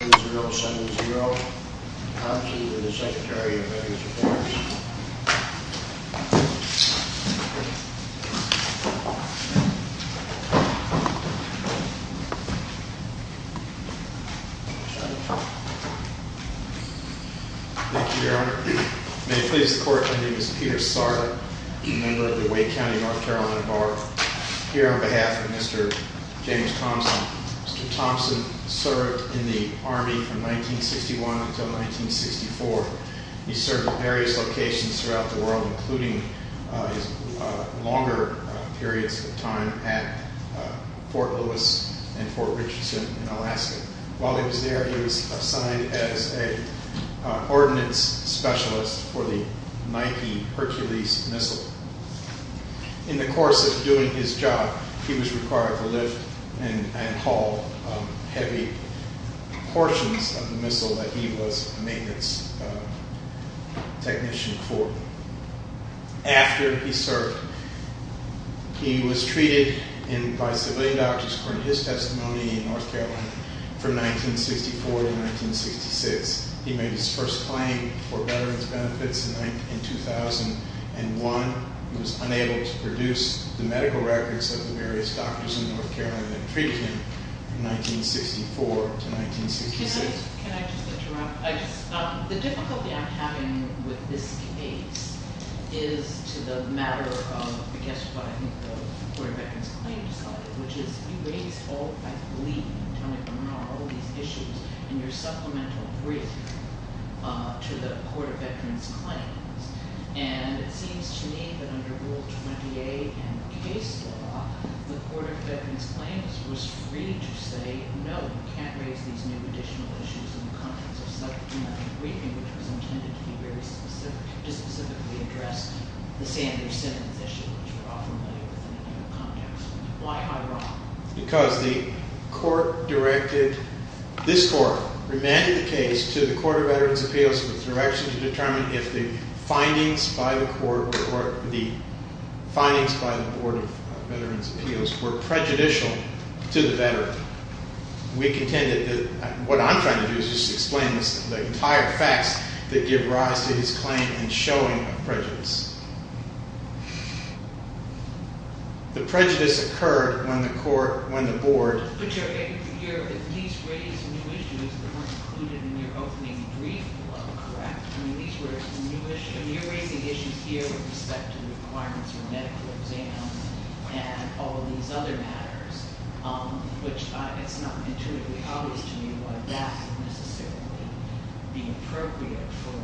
to the Secretary of Veterans Affairs. Thank you, Your Honor. May it please the Court, my name is Peter Sartre, a member of the Wake County North Carolina Bar. Here on behalf of Mr. Amos Thompson, Mr. Thompson served in the Army from 1961 until 1964. He served in various locations throughout the world, including longer periods of time at Fort Lewis and Fort Richardson in Alaska. While he was there, he was assigned as an ordnance specialist for the Nike Hercules missile. In the course of doing his job, he was required to lift and haul heavy portions of the missile that he was a maintenance technician for. After he served, he was treated by civilian doctors, according to his testimony in North Carolina, from 1964 to 1966. He made his first claim for parole in 1961. He was unable to produce the medical records of the various doctors in North Carolina that treated him from 1964 to 1966. Can I just interrupt? The difficulty I'm having with this case is to the matter of, I guess, what I think the Court of Veterans Claims decided, which is erase all, I believe, Tony Bernard, all these issues in your supplemental briefing to the Court of Veterans Claims. And it seems to me that under Rule 28 in the case law, the Court of Veterans Claims was free to say, no, we can't raise these new additional issues in the context of such a briefing, which was intended to be very specific, to specifically address the Sanders-Simmons issue, which we're all familiar with in the context. Because the court directed, this court remanded the case to the Court of Veterans Appeals for direction to determine if the findings by the court, or the findings by the Board of Veterans Appeals were prejudicial to the veteran. We contended that what I'm trying to do is just explain the entire facts that give rise to his claim in showing a prejudice. The prejudice occurred when the board... But you're at least raising new issues that weren't included in your opening brief, correct? I mean, these were new issues. I mean, you're raising issues here with respect to requirements for medical exams and all of these other matters, which it's not intuitively obvious to me why that would necessarily be appropriate for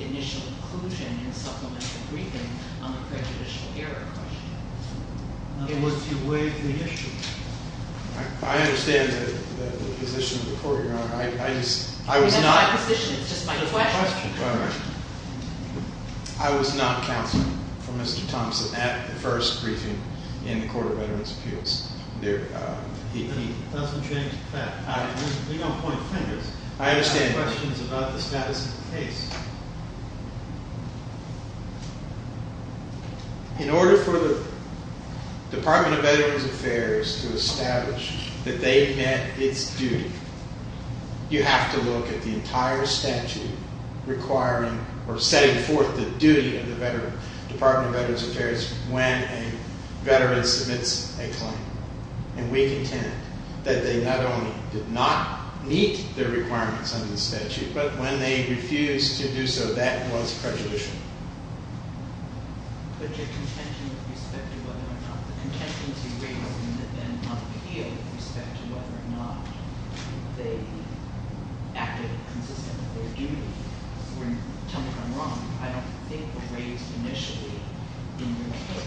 initial inclusion in a supplemental briefing on the prejudicial error question. It was to waive the issue. I understand the position of the court, Your Honor. I was not- That's my position. It's just my question. All right. I was not counsel for Mr. Thompson at the first briefing in the Court of Veterans Appeals. That doesn't change the fact. You don't point fingers. I understand that. I have questions about the status of the case. In order for the Department of Veterans Affairs to establish that they met its duty, you have to look at the entire statute requiring or setting forth the duty of the Department of Veterans Affairs when a veteran submits a claim. And we contend that they not only did not meet the requirements under the statute, but when they refused to do so, that was prejudicial. But your contention with respect to whether or not the contingency rate has been then upheld with respect to whether or not they acted consistently on their duty were, tell me if I'm wrong, I don't think were raised initially in your case.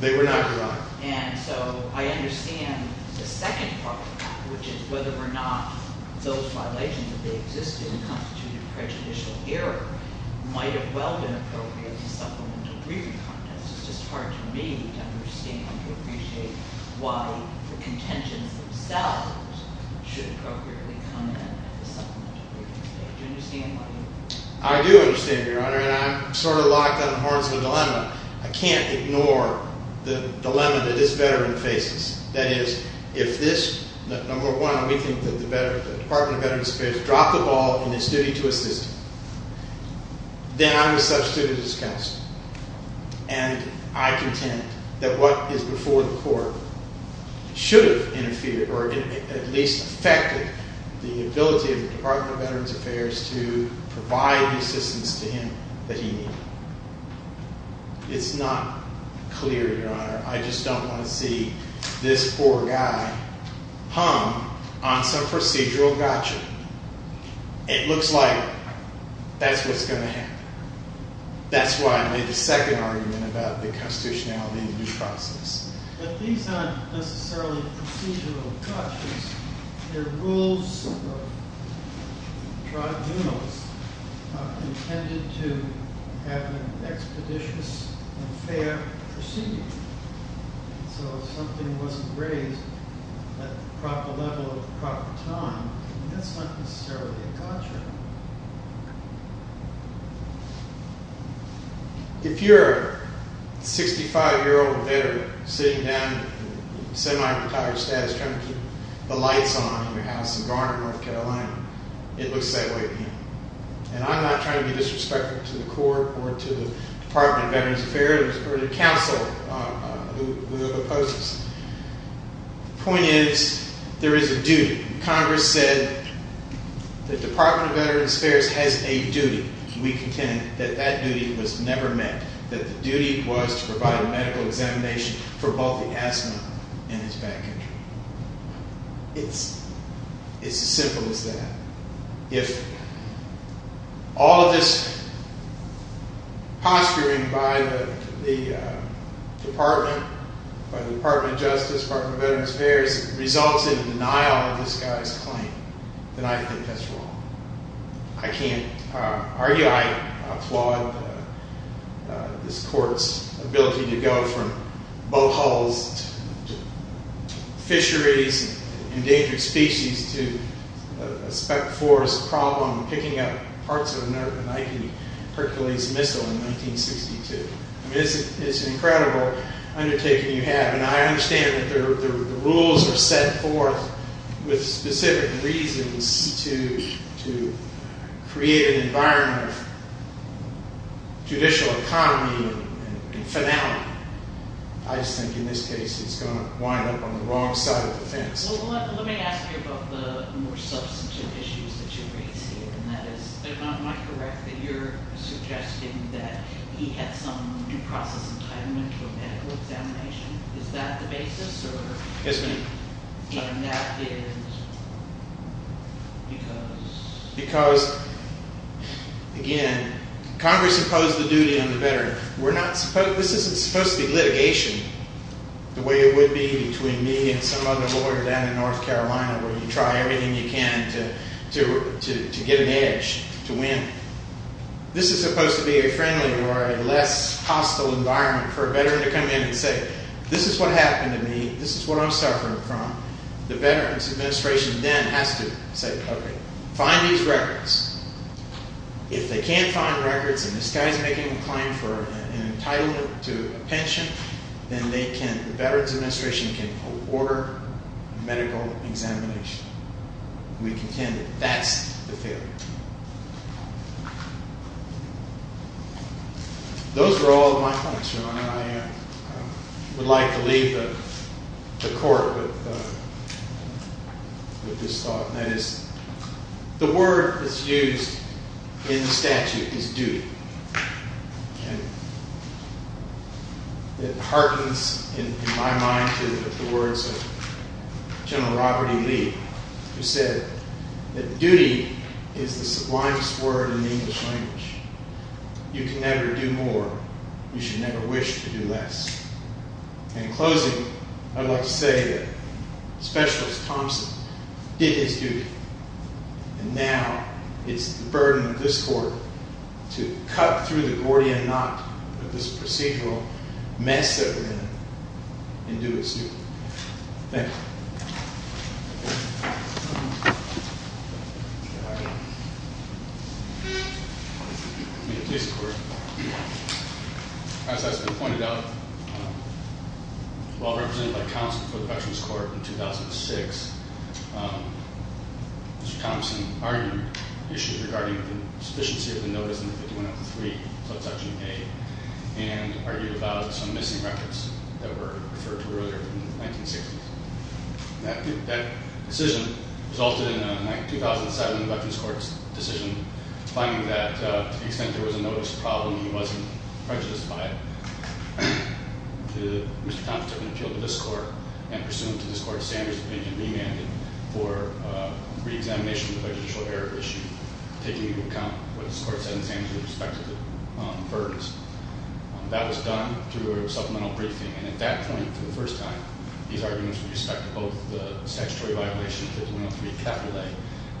They were not, Your Honor. And so I understand the second part of that, which is whether or not those claims have been appropriately supplemented in the briefing context. It's just hard to me to understand, to appreciate why the contentions themselves should appropriately come in at the supplemental briefing stage. Do you understand what I mean? I do understand, Your Honor. And I'm sort of locked on the horns of the dilemma. I can't ignore the dilemma that this veteran faces. That is, if this, number one, we think that the Department of Veterans Affairs should have dropped the ball in its duty to assist him, then I was substituted as counselor, and I contend that what is before the court should have interfered or at least affected the ability of the Department of Veterans Affairs to provide the assistance to him that he needed. It's not clear, Your Honor. I just don't want to see this poor guy hung on some procedural gotcha. It looks like that's what's going to happen. That's why I made the second argument about the constitutionality of the process. But these aren't necessarily procedural gotchas. The rules of tribunals are intended to have an expeditious and fair procedure. So if something wasn't raised at the proper level at the proper time, that's not necessarily a gotcha. If you're a 65-year-old veteran sitting down, semi-retired status, trying to keep the lights on in your house in Garner, North Carolina, it looks that way to me. And I'm not trying to be disrespectful to the court or to the Department of Veterans Affairs or to counsel who opposes. The point is there is a duty. Congress said the Department of Veterans Affairs has a duty. We contend that that duty was never met, that the duty was to provide a medical examination for both the asthma and his back injury. It's as simple as that. If all of this posturing by the Department of Justice, Department of Veterans Affairs, results in a denial of this guy's claim, then I think that's wrong. I can't argue. I applaud this court's ability to go from boat hulls to fisheries, endangered species, to a speck forest problem, picking up parts of a Nike Hercules missile in 1962. It's an incredible undertaking you have. And I understand that the rules are set forth with specific reasons to create an environment of judicial economy and finality. I just think in this case it's going to wind up on the wrong side of the fence. Well, let me ask you about the more substantive issues that you raise here, and that is, if I'm not correct, that you're suggesting that he had some due process entitlement to a medical examination. Is that the basis? Yes, ma'am. And that is because? Because, again, Congress imposed the duty on the veteran. This isn't supposed to be litigation the way it would be between me and some other lawyer down in North Carolina, where you try everything you can to get an edge, to win. This is supposed to be a friendly or a less hostile environment for a veteran to come in and say, this is what happened to me, this is what I'm suffering from. The Veterans Administration then has to say, okay, find these records. If they can't find records and this guy's making a claim for an entitlement to a pension, then the Veterans Administration can order a medical examination. We contend that that's the failure. Those were all of my points, Your Honor. I would like to leave the Court with this thought, and that is the word that's used in the statute is duty. It heartens in my mind the words of General Robert E. Lee, who said that duty is the sublimest word in the English language. You can never do more. You should never wish to do less. In closing, I'd like to say that Specialist Thompson did his duty, and now it's the burden of this Court to cut through the Gordian knot of this procedural mess that we're in and do its duty. Thank you. Thank you, Your Honor. May it please the Court. As has been pointed out, while represented by Thompson for the Veterans Court in 2006, Mr. Thompson argued issues regarding the sufficiency of the notice in 51-3, subsection A, and argued about some missing records that were referred to earlier in the 1960s. That decision resulted in a 2007 Veterans Court decision, finding that to the extent there was a notice problem, he wasn't prejudiced by it. Mr. Thompson appealed to this Court, and pursuant to this Court, Sanders' opinion remanded for reexamination of the prejudicial error issue, taking into account what this Court said in Sanders' respect to the burdens. That was done through a supplemental briefing, and at that point, for the first time, these arguments with respect to both the statutory violation of 51-3 capital A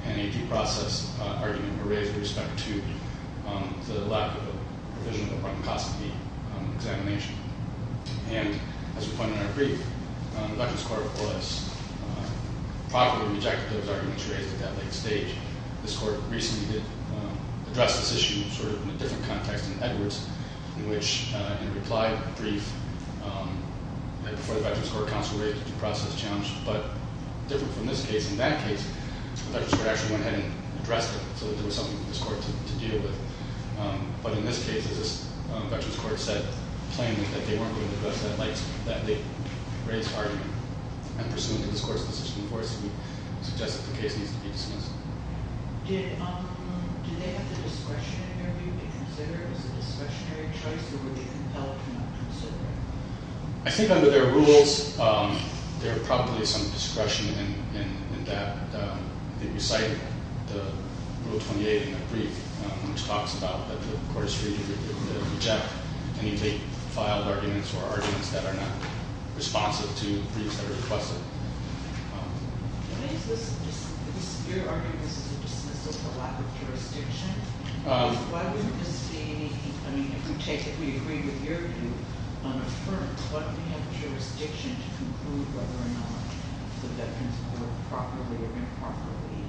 and a due process argument were raised with respect to the lack of a provision of a bronchoscopy examination. And, as we find in our brief, the Veterans Court was properly rejected those arguments raised at that late stage. This Court recently addressed this issue in a different context in Edwards, in which in a reply brief before the Veterans Court, counsel raised a due process challenge. But different from this case, in that case, the Veterans Court actually went ahead and addressed it so that there was something for this Court to deal with. But in this case, this Veterans Court said plainly that they weren't going to address that late argument. And pursuant to this Court's decision, of course, we suggest that the case needs to be dismissed. Did they have the discretion in their view to consider it as a discretionary choice, or were they compelled to not consider it? I think under their rules, there are probably some discretion in that. I think you cite Rule 28 in that brief, which talks about that the Court is free to reject any late-filed arguments or arguments that are not responsive to the briefs that are requested. If you're arguing this is a dismissal for lack of jurisdiction, why wouldn't this be, I mean, if you take it, we agree with your view, unaffirmed, why don't we have jurisdiction to conclude whether or not the Veterans Court properly or improperly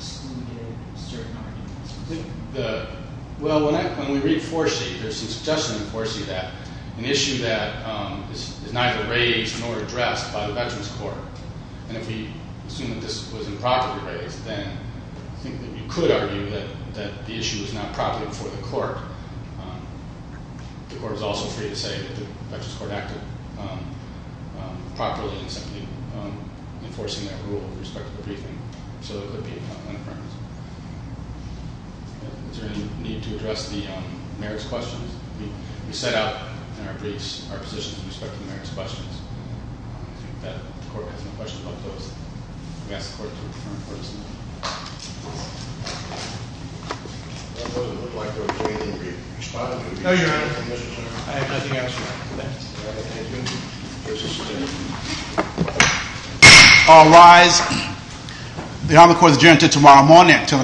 excluded certain arguments? Well, when we read Foresee, there's some suggestion in Foresee that an issue that is neither raised nor addressed by the Veterans Court, and if we assume that this was improperly raised, then I think that we could argue that the issue was not properly before the Court. The Court was also free to say that the Veterans Court acted properly in simply enforcing that rule with respect to the briefing, so it would be unaffirmed. Is there any need to address the merits questions? We set out in our briefs our position with respect to the merits questions. I think that the Court has no questions about those. I'm going to ask the Court to confirm for us. All rise. The Honorable Court is adjourned until tomorrow morning at 10 o'clock.